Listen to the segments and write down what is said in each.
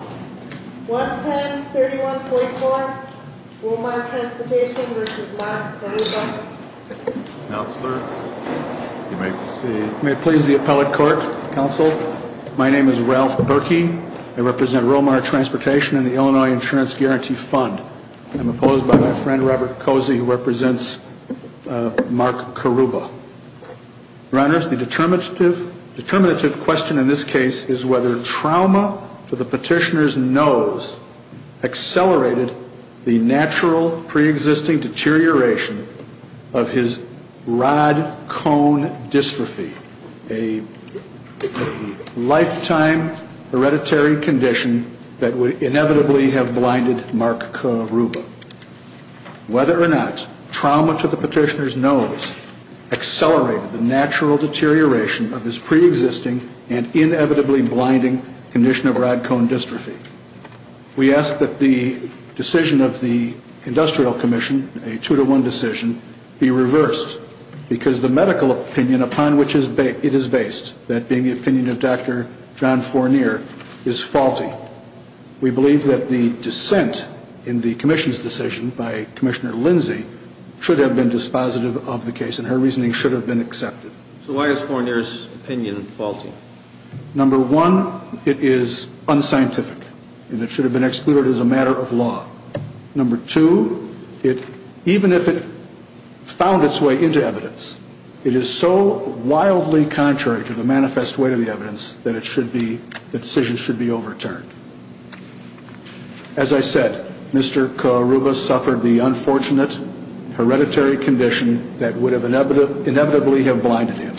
11031.4 Romar Transportation v. Mark Karuba May it please the appellate court, counsel. My name is Ralph Berkey. I represent Romar Transportation and the Illinois Insurance Guarantee Fund. I'm opposed by my friend Robert Cozy, who represents Mark Karuba. Your Honors, the determinative question in this case is whether trauma to the petitioner's nose accelerated the natural pre-existing deterioration of his rod-cone dystrophy, a lifetime hereditary condition that would inevitably have blinded Mark Karuba. Whether or not trauma to the petitioner's nose accelerated the natural deterioration of his pre-existing and inevitably blinding condition of rod-cone dystrophy, we ask that the decision of the Industrial Commission, a two-to-one decision, be reversed, because the medical opinion upon which it is based, that being the opinion of Dr. John Fournier, is faulty. We believe that the dissent in the Commission's decision by Commissioner Lindsay should have been dispositive of the case, and her reasoning should have been accepted. So why is Fournier's opinion faulty? Number one, it is unscientific, and it should have been excluded as a matter of law. Number two, even if it found its way into evidence, it is so wildly contrary to the manifest weight of the evidence that the decision should be overturned. As I said, Mr. Karuba suffered the unfortunate hereditary condition that would have inevitably have blinded him.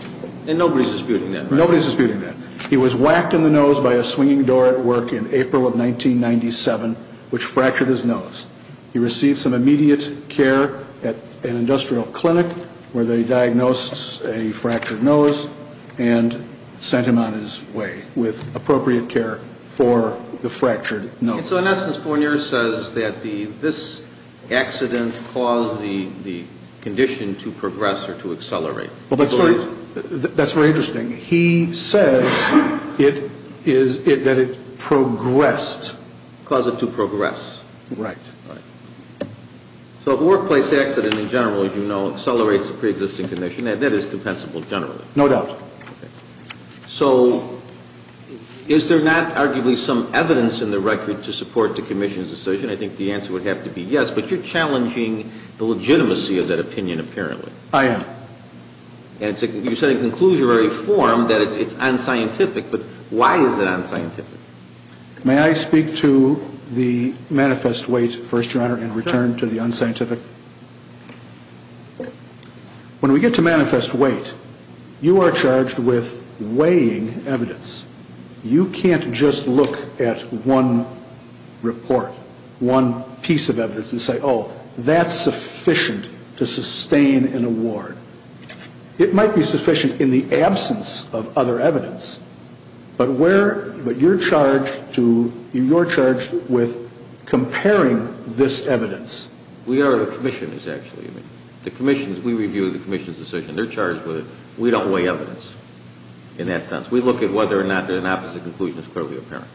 And nobody's disputing that, right? Nobody's disputing that. He was whacked in the nose by a swinging door at work in April of 1997, which fractured his nose. He received some immediate care at an industrial clinic where they diagnosed a fractured nose and sent him on his way with appropriate care for the fractured nose. And so in essence, Fournier says that this accident caused the condition to progress or to accelerate. Well, that's very interesting. He says that it progressed. Caused it to progress. Right. Right. So the workplace accident in general, as you know, accelerates the preexisting condition, and that is compensable generally. No doubt. Okay. So is there not arguably some evidence in the record to support the commission's decision? I think the answer would have to be yes, but you're challenging the legitimacy of that opinion apparently. I am. And you said in conclusionary form that it's unscientific, but why is it unscientific? May I speak to the manifest weight first, Your Honor, and return to the unscientific? Sure. When we get to manifest weight, you are charged with weighing evidence. You can't just look at one report, one piece of evidence and say, oh, that's sufficient to sustain an award. It might be sufficient in the absence of other evidence, but you're charged with comparing this evidence. We are commissioners, actually. We review the commission's decision. They're charged with it. We don't weigh evidence in that sense. We look at whether or not an opposite conclusion is clearly apparent.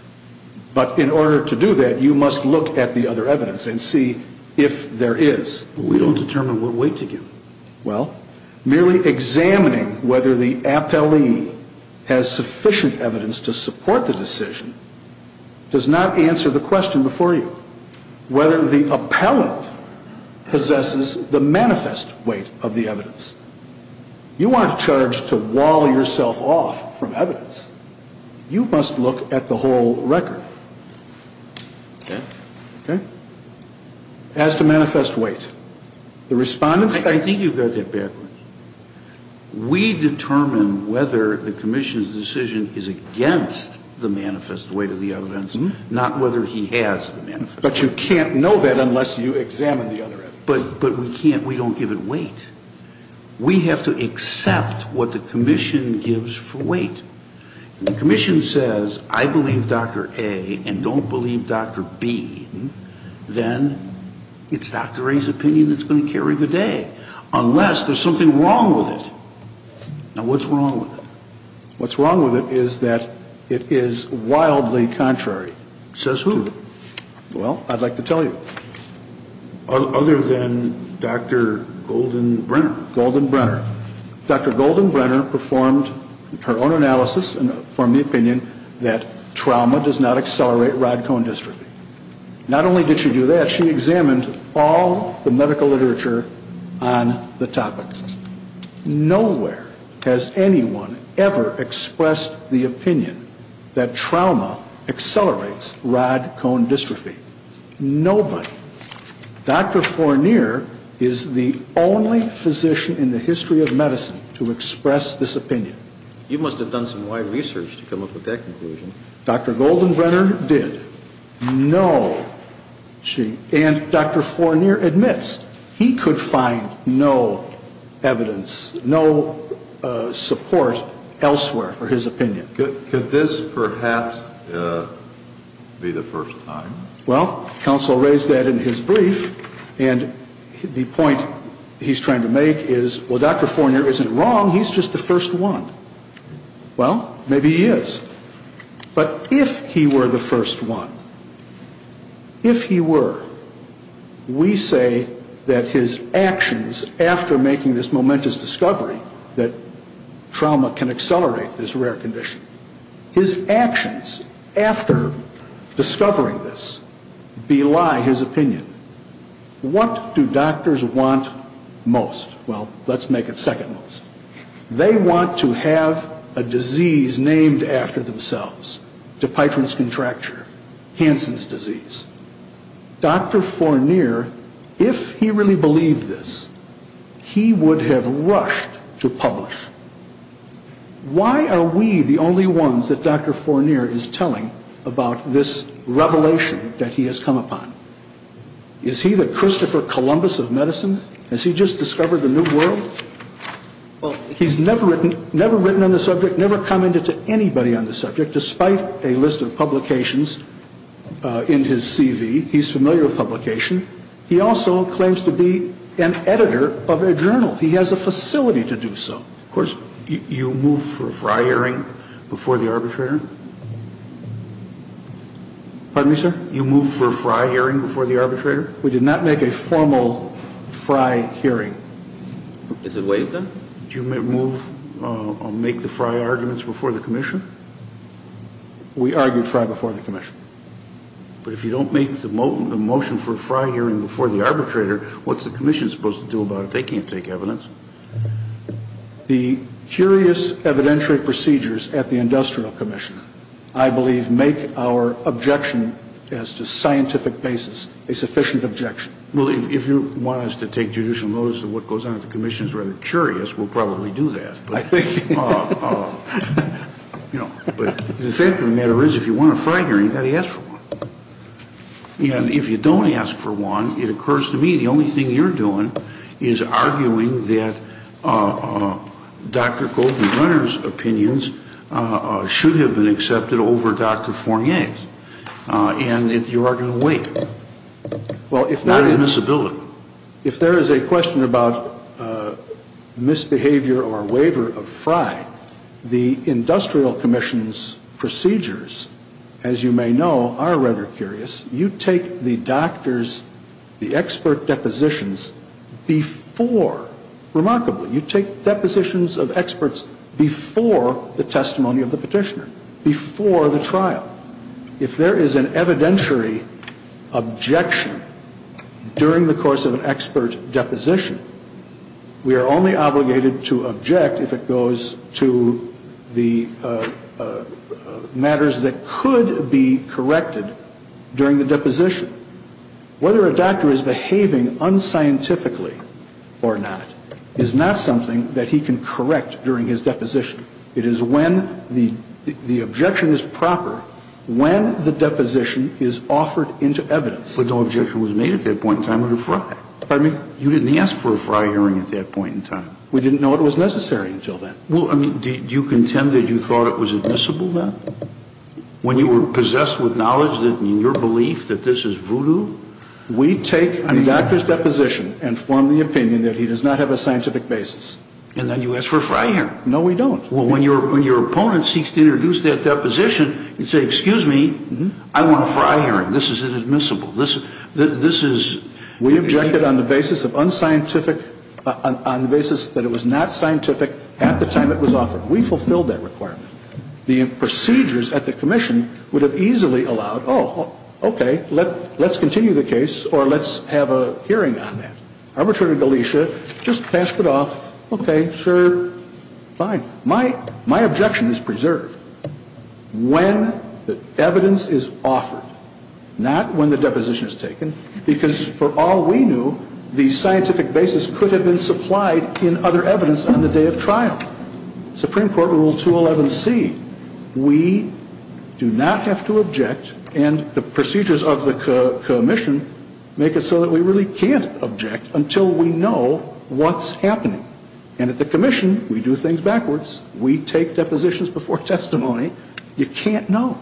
But in order to do that, you must look at the other evidence and see if there is. We don't determine what weight to give. Well, merely examining whether the appellee has sufficient evidence to support the decision does not answer the question before you, whether the appellant possesses the manifest weight of the evidence. You aren't charged to wall yourself off from evidence. You must look at the whole record. Okay? Okay? As to manifest weight. The Respondent's... I think you've got that backwards. We determine whether the commission's decision is against the manifest weight of the evidence, not whether he has the manifest weight. But you can't know that unless you examine the other evidence. But we can't. We don't give it weight. We have to accept what the commission gives for weight. And the commission says, I believe Dr. A and don't believe Dr. B, then it's Dr. A's opinion that's going to carry the day. Unless there's something wrong with it. Now, what's wrong with it? What's wrong with it is that it is wildly contrary. Says who? Well, I'd like to tell you. Other than Dr. Goldenbrenner? Goldenbrenner. Dr. Goldenbrenner performed her own analysis and formed the opinion that trauma does not accelerate rod-cone dystrophy. Not only did she do that, she examined all the medical literature on the topic. Nowhere has anyone ever expressed the opinion that trauma accelerates rod-cone dystrophy. Nobody. Dr. Fournier is the only physician in the history of medicine to express this opinion. You must have done some wide research to come up with that conclusion. Dr. Goldenbrenner did. No. And Dr. Fournier admits he could find no evidence, no support elsewhere for his opinion. Could this perhaps be the first time? Well, counsel raised that in his brief, and the point he's trying to make is, well, Dr. Fournier isn't wrong, he's just the first one. Well, maybe he is. But if he were the first one, if he were, we say that his actions after making this momentous discovery that trauma can accelerate this rare condition, his actions after discovering this bely his opinion. What do doctors want most? Well, let's make it second most. They want to have a disease named after themselves. DePython's contracture. Hansen's disease. Dr. Fournier, if he really believed this, he would have rushed to publish. Why are we the only ones that Dr. Fournier is telling about this revelation that he has come upon? Is he the Christopher Columbus of medicine? Has he just discovered the new world? Well, he's never written on the subject, never commented to anybody on the subject, despite a list of publications in his CV. He's familiar with publication. He also claims to be an editor of a journal. He has a facility to do so. Of course, you move for a FRI hearing before the arbitrator? Pardon me, sir? You move for a FRI hearing before the arbitrator? We did not make a formal FRI hearing. Is it waived then? Do you move or make the FRI arguments before the commission? We argued FRI before the commission. But if you don't make the motion for a FRI hearing before the arbitrator, what's the commission supposed to do about it? They can't take evidence. The curious evidentiary procedures at the industrial commission, I believe, make our objection as to scientific basis a sufficient objection. Well, if you want us to take judicial notice of what goes on at the commission is rather curious, we'll probably do that. But the fact of the matter is if you want a FRI hearing, you've got to ask for one. And if you don't ask for one, it occurs to me the only thing you're doing is arguing that Dr. Colton Brenner's opinions should have been accepted over Dr. Fournier's. And you are going to wait. Well, if that is. What a misability. So if there is a question about misbehavior or waiver of FRI, the industrial commission's procedures, as you may know, are rather curious. You take the doctor's, the expert depositions before. Remarkably, you take depositions of experts before the testimony of the petitioner, before the trial. Now, if there is an evidentiary objection during the course of an expert deposition, we are only obligated to object if it goes to the matters that could be corrected during the deposition. Whether a doctor is behaving unscientifically or not is not something that he can correct during his deposition. It is when the objection is proper, when the deposition is offered into evidence. But no objection was made at that point in time under FRI. Pardon me? You didn't ask for a FRI hearing at that point in time. We didn't know it was necessary until then. Well, I mean, do you contend that you thought it was admissible then? When you were possessed with knowledge that in your belief that this is voodoo? We take the doctor's deposition and form the opinion that he does not have a scientific basis. And then you ask for a FRI hearing. No, we don't. Well, when your opponent seeks to introduce that deposition, you say, excuse me, I want a FRI hearing. This is inadmissible. This is... We objected on the basis of unscientific, on the basis that it was not scientific at the time it was offered. We fulfilled that requirement. The procedures at the commission would have easily allowed, oh, okay, let's continue the case or let's have a hearing on that. Arbitrator Galicia just passed it off, okay, sure, fine. My objection is preserved when the evidence is offered, not when the deposition is taken, because for all we knew, the scientific basis could have been supplied in other evidence on the day of trial. Supreme Court Rule 211C, we do not have to object, and the procedures of the commission make it so that we really can't object until we know what's happening. And at the commission, we do things backwards. We take depositions before testimony. You can't know.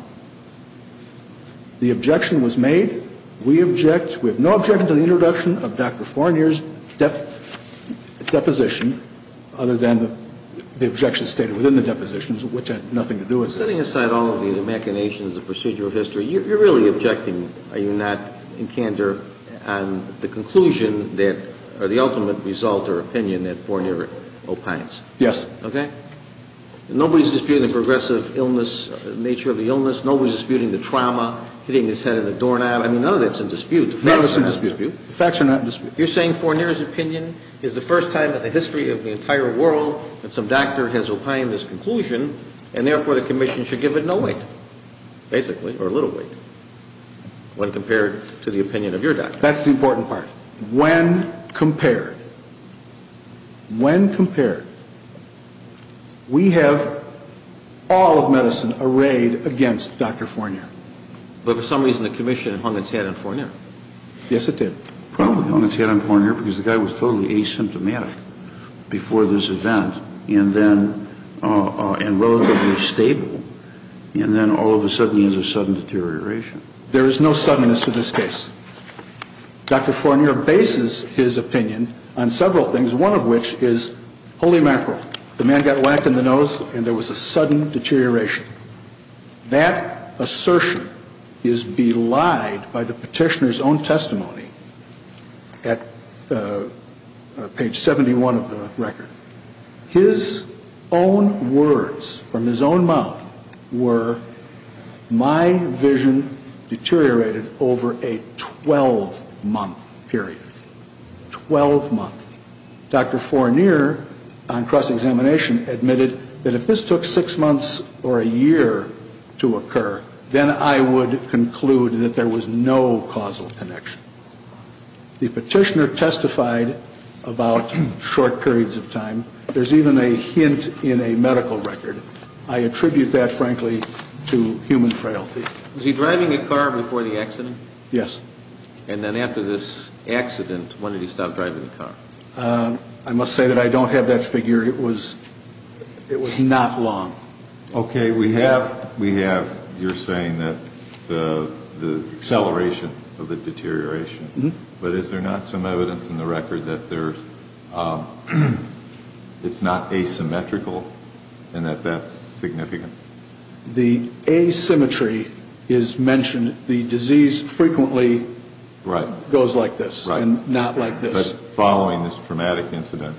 The objection was made. We object. We have no objection to the introduction of Dr. Fournier's deposition other than the objection stated within the depositions, which had nothing to do with this. If you're setting aside all of the machinations, the procedural history, you're really objecting. Are you not in candor on the conclusion that or the ultimate result or opinion that Fournier opines? Yes. Okay. Nobody's disputing the progressive illness, nature of the illness. Nobody's disputing the trauma, hitting his head in the doorknob. I mean, none of that's in dispute. None of it's in dispute. The facts are not in dispute. You're saying Fournier's opinion is the first time in the history of the entire world that some doctor has opined this conclusion, and therefore the commission should give it no weight, basically, or a little weight when compared to the opinion of your doctor. That's the important part. When compared, when compared, we have all of medicine arrayed against Dr. Fournier. But for some reason the commission hung its head on Fournier. Yes, it did. Probably hung its head on Fournier because the guy was totally asymptomatic before this event and relatively stable, and then all of a sudden he has a sudden deterioration. There is no suddenness to this case. Dr. Fournier bases his opinion on several things, one of which is holy mackerel. The man got whacked in the nose and there was a sudden deterioration. That assertion is belied by the petitioner's own testimony at page 71 of the record. His own words from his own mouth were, my vision deteriorated over a 12-month period, 12 months. Dr. Fournier, on cross-examination, admitted that if this took six months or a year to occur, then I would conclude that there was no causal connection. The petitioner testified about short periods of time. There's even a hint in a medical record. I attribute that, frankly, to human frailty. Was he driving a car before the accident? Yes. And then after this accident, when did he stop driving the car? I must say that I don't have that figure. It was not long. Okay. We have, you're saying, the acceleration of the deterioration, but is there not some evidence in the record that it's not asymmetrical and that that's significant? The asymmetry is mentioned. And the disease frequently goes like this and not like this. But following this traumatic incident.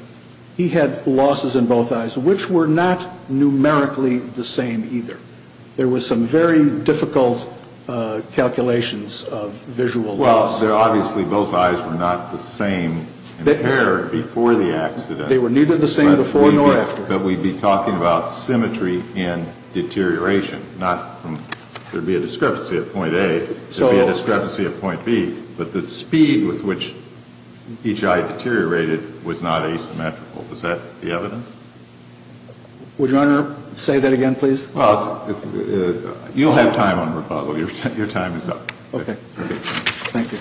He had losses in both eyes, which were not numerically the same either. There was some very difficult calculations of visual loss. Well, obviously both eyes were not the same in pair before the accident. They were neither the same before nor after. So you're saying that there's no evidence in the record that we'd be talking about symmetry and deterioration, not there'd be a discrepancy at point A, there'd be a discrepancy at point B, but the speed with which each eye deteriorated was not asymmetrical. Is that the evidence? Would Your Honor say that again, please? Well, you'll have time on rebuttal. Your time is up. Okay. Thank you.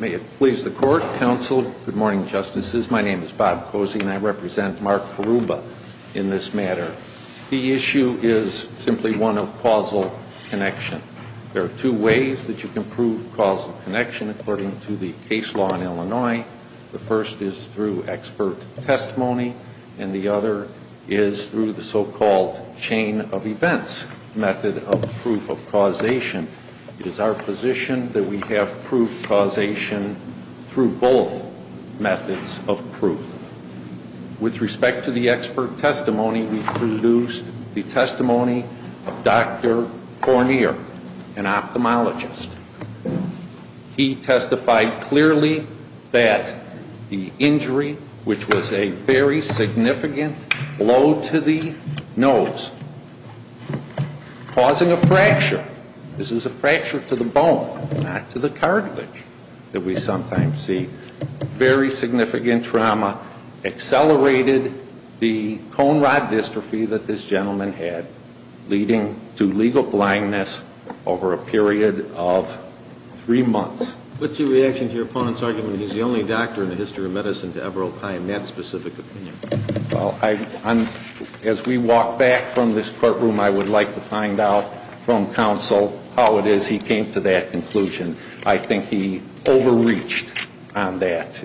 May it please the Court, Counsel, good morning, Justices. My name is Bob Cozy and I represent Mark Karuba in this matter. The issue is simply one of causal connection. There are two ways that you can prove causal connection according to the case law in Illinois. The first is through expert testimony. And the other is through an expert witness. The second is through the so-called chain of events method of proof of causation. It is our position that we have proof causation through both methods of proof. With respect to the expert testimony, we produced the testimony of Dr. Fournier, an ophthalmologist. He testified clearly that the injury, which was a very significant blow to the nose, causing a fracture, this is a fracture to the bone, not to the cartilage that we sometimes see, very significant trauma accelerated the cone rod dystrophy that this gentleman had, leading to legal blindness over a period of three months. What's your reaction to your opponent's argument that he's the only doctor in the history of medicine to ever opine that specific opinion? Well, as we walk back from this courtroom, I would like to find out from Counsel how it is he came to that conclusion. I think he overreached on that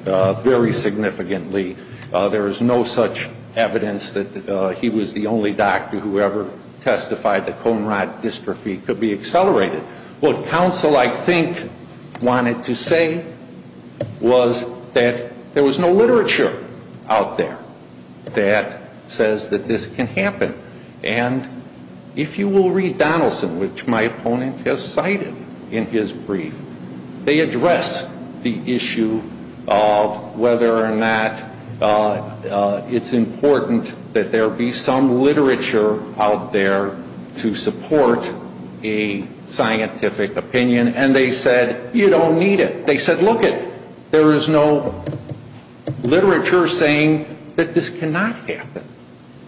very significantly. There is no such evidence that he was the only doctor who ever testified that cone rod dystrophy could be accelerated. What Counsel, I think, wanted to say was that there was no literature out there that says that this can happen. And if you will read Donaldson, which my opponent has cited in his brief, they address the issue of whether or not it's important that there be some literature out there to support a scientific opinion. And they said, you don't need it. They said, look it, there is no literature saying that this cannot happen.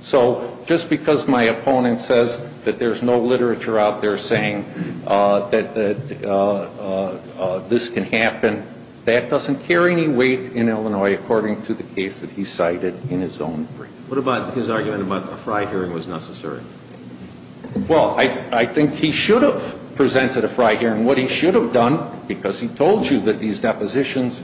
So just because my opponent says that there's no literature out there saying that this can happen, that doesn't carry any weight in Illinois according to the case that he cited in his own brief. What about his argument about a fry hearing was necessary? Well, I think he should have presented a fry hearing. What he should have done, because he told you that these depositions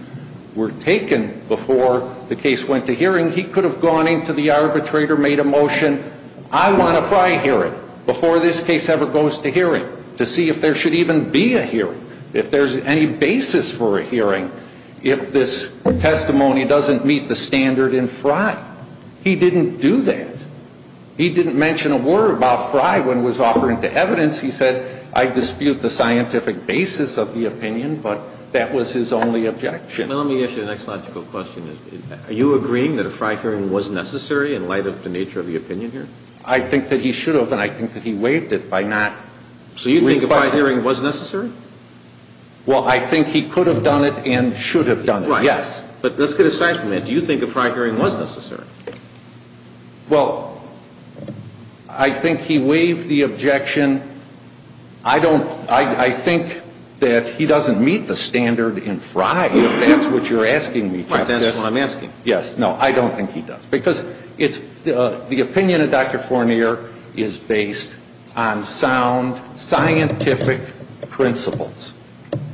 were taken before the case went to hearing, he could have gone into the arbitrator, made a motion, I want a fry hearing before this case ever goes to hearing to see if there should even be a hearing, if there's any basis for a hearing, if this testimony doesn't meet the standard in fry. He didn't do that. He didn't mention a word about fry when it was offered into evidence. He said, I dispute the scientific basis of the opinion, but that was his only objection. Well, let me ask you the next logical question. Are you agreeing that a fry hearing was necessary in light of the nature of the opinion here? I think that he should have, and I think that he waived it by not requesting it. So you think a fry hearing was necessary? Well, I think he could have done it and should have done it, yes. Right. But let's get aside for a minute. Do you think a fry hearing was necessary? Well, I think he waived the objection. I think that he doesn't meet the standard in fry, if that's what you're asking me. That's what I'm asking. Yes. No, I don't think he does. Because the opinion of Dr. Fournier is based on sound scientific principles.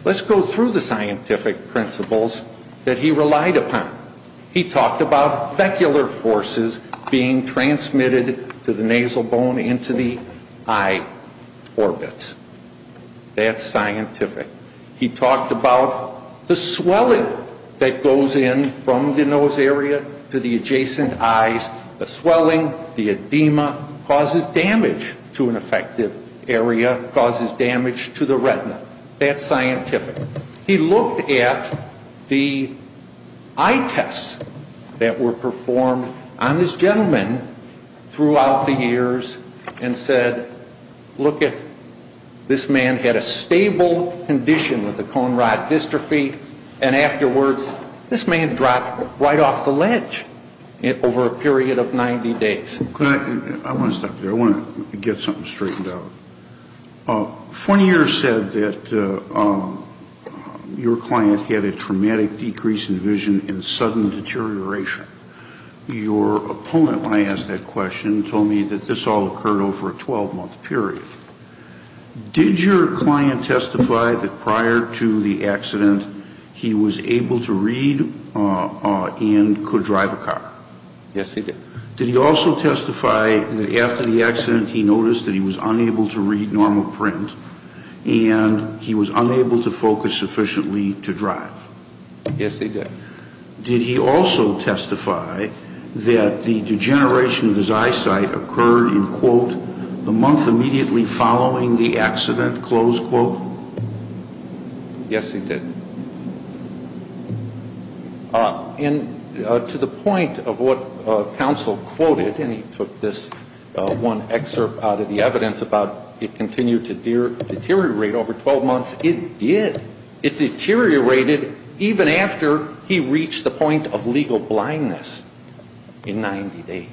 Let's go through the scientific principles that he relied upon. He talked about vecular forces being transmitted to the nasal bone and to the eye orbits. That's scientific. He talked about the swelling that goes in from the nose area to the adjacent eyes. The swelling, the edema, causes damage to an effective area, causes damage to the retina. That's scientific. He looked at the eye tests that were performed on this gentleman throughout the years and said, look at this man had a stable condition with a cone rod dystrophy, and afterwards this man dropped right off the ledge over a period of 90 days. I want to stop there. I want to get something straightened out. Fournier said that your client had a traumatic decrease in vision and sudden deterioration. Your opponent, when I asked that question, told me that this all occurred over a 12-month period. Did your client testify that prior to the accident he was able to read and could drive a car? Yes, he did. Did he also testify that after the accident he noticed that he was unable to read normal print and he was unable to focus sufficiently to drive? Yes, he did. Did he also testify that the degeneration of his eyesight occurred in, quote, the month immediately following the accident, close quote? Yes, he did. And to the point of what counsel quoted, and he took this one excerpt out of the evidence about it continued to deteriorate over 12 months, it did. It deteriorated even after he reached the point of legal blindness in 90 days.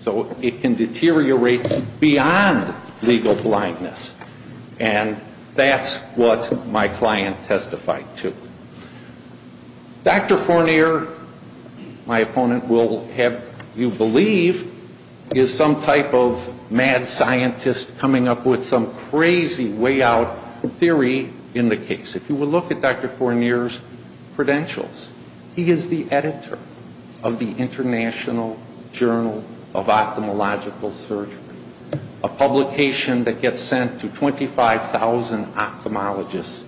So it can deteriorate beyond legal blindness. And that's what my client testified to. Dr. Fournier, my opponent will have you believe, is some type of mad scientist coming up with some crazy way out theory in the case. If you will look at Dr. Fournier's credentials, he is the editor of the International Journal of Ophthalmological Surgery, a publication that gets sent to 25,000 ophthalmologists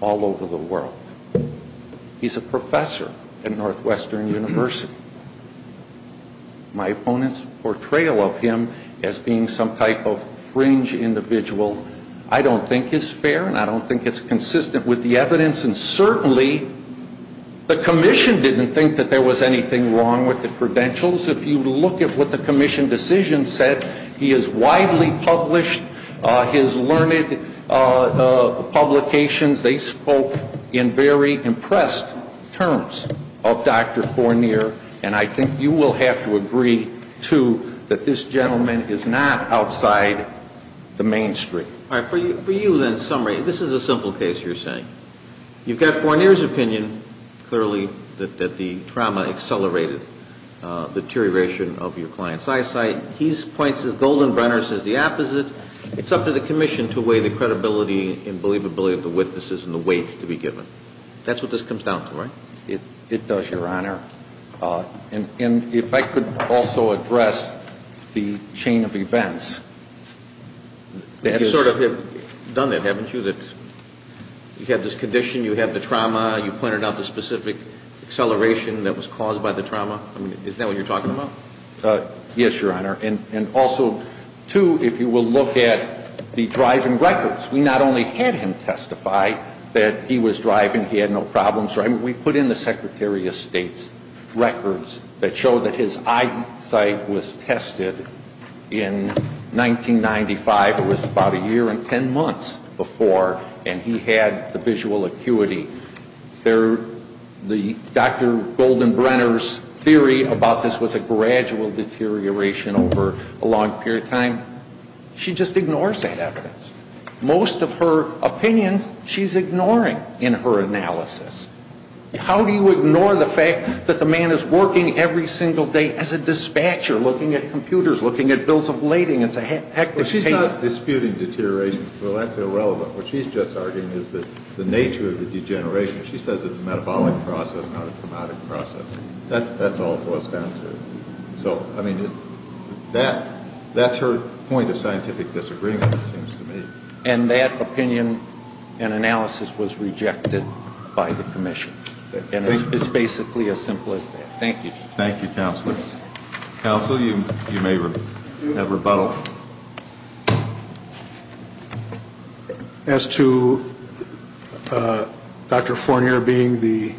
all over the world. He's a professor at Northwestern University. My opponent's portrayal of him as being some type of fringe individual I don't think is fair and I don't think it's consistent with the evidence, and certainly the commission didn't think that there was anything wrong with the credentials. If you look at what the commission decision said, he is widely published. His learned publications, they spoke in very impressed terms of Dr. Fournier, and I think you will have to agree, too, that this gentleman is not outside the mainstream. All right. For you, then, in summary, this is a simple case you're saying. You've got Fournier's opinion, clearly, that the trauma accelerated the deterioration of your client's eyesight. He points to Goldenbrenner's as the opposite. It's up to the commission to weigh the credibility and believability of the witnesses and the weight to be given. That's what this comes down to, right? It does, Your Honor. And if I could also address the chain of events. You sort of have done that, haven't you, that you had this condition, you had the trauma, you pointed out the specific acceleration that was caused by the trauma. I mean, is that what you're talking about? Yes, Your Honor. And also, too, if you will look at the driving records. We not only had him testify that he was driving, he had no problems driving. We put in the Secretary of State's records that show that his eyesight was tested in 1995. It was about a year and ten months before. And he had the visual acuity. Dr. Goldenbrenner's theory about this was a gradual deterioration over a long period of time. She just ignores that evidence. Most of her opinions she's ignoring in her analysis. How do you ignore the fact that the man is working every single day as a dispatcher looking at computers, looking at bills of lading? It's a hectic case. But she's not disputing deterioration. Well, that's irrelevant. What she's just arguing is that the nature of the degeneration, she says it's a metabolic process, not a traumatic process. That's all it boils down to. So, I mean, that's her point of scientific disagreement, it seems to me. And that opinion and analysis was rejected by the commission. And it's basically as simple as that. Thank you. Thank you, Counselor. Counsel, you may have rebuttal. Well, as to Dr. Fournier being the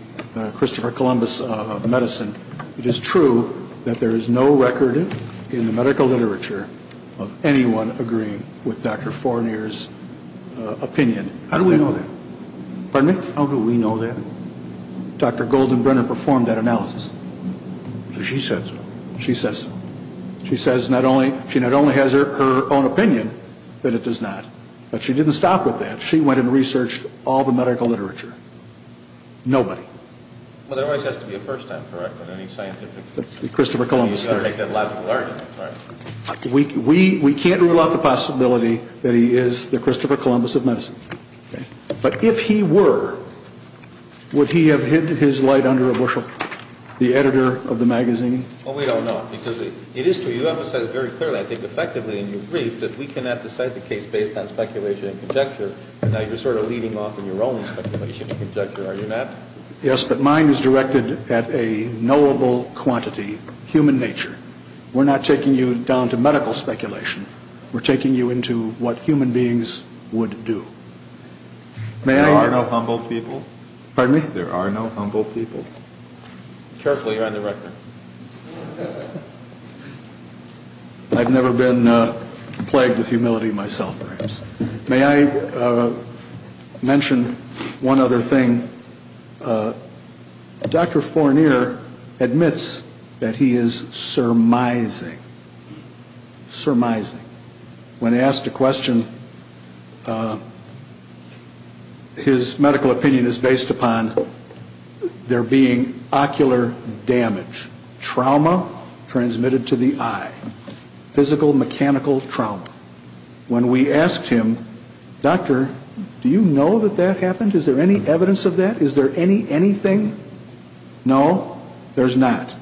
Christopher Columbus of medicine, it is true that there is no record in the medical literature of anyone agreeing with Dr. Fournier's opinion. How do we know that? Pardon me? How do we know that? Dr. Goldenbrenner performed that analysis. She says so. She says so. She says she not only has her own opinion, but it does not. But she didn't stop with that. She went and researched all the medical literature. Nobody. Well, there always has to be a first time correct on any scientific case. That's the Christopher Columbus theory. We can't rule out the possibility that he is the Christopher Columbus of medicine. But if he were, would he have hid his light under a bushel, the editor of the magazine? Well, we don't know. Because it is true. You emphasized very clearly, I think effectively in your brief, that we cannot decide the case based on speculation and conjecture. And now you're sort of leading off on your own speculation and conjecture, are you not? Yes, but mine is directed at a knowable quantity, human nature. We're not taking you down to medical speculation. We're taking you into what human beings would do. There are no humble people. Pardon me? There are no humble people. Careful, you're on the record. I've never been plagued with humility myself, perhaps. May I mention one other thing? Dr. Fournier admits that he is surmising, surmising. When asked a question, his medical opinion is based upon there being ocular damage, trauma transmitted to the eye, physical, mechanical trauma. When we asked him, Doctor, do you know that that happened? Is there any evidence of that? Is there any anything? No, there's not.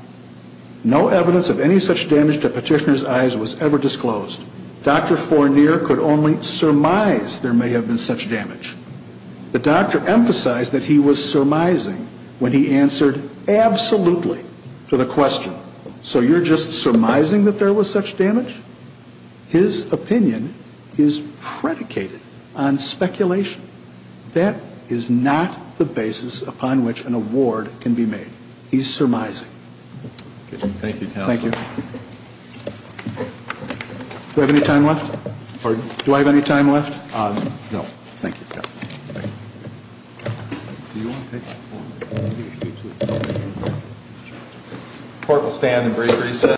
No evidence of any such damage to petitioner's eyes was ever disclosed. Dr. Fournier could only surmise there may have been such damage. The doctor emphasized that he was surmising when he answered absolutely to the question. So you're just surmising that there was such damage? His opinion is predicated on speculation. That is not the basis upon which an award can be made. He's surmising. Thank you, Counselor. Thank you. Do we have any time left? Pardon? Do I have any time left? No. Thank you, Counselor. Thank you. Do you want to take that for me? Court will stand and break recess.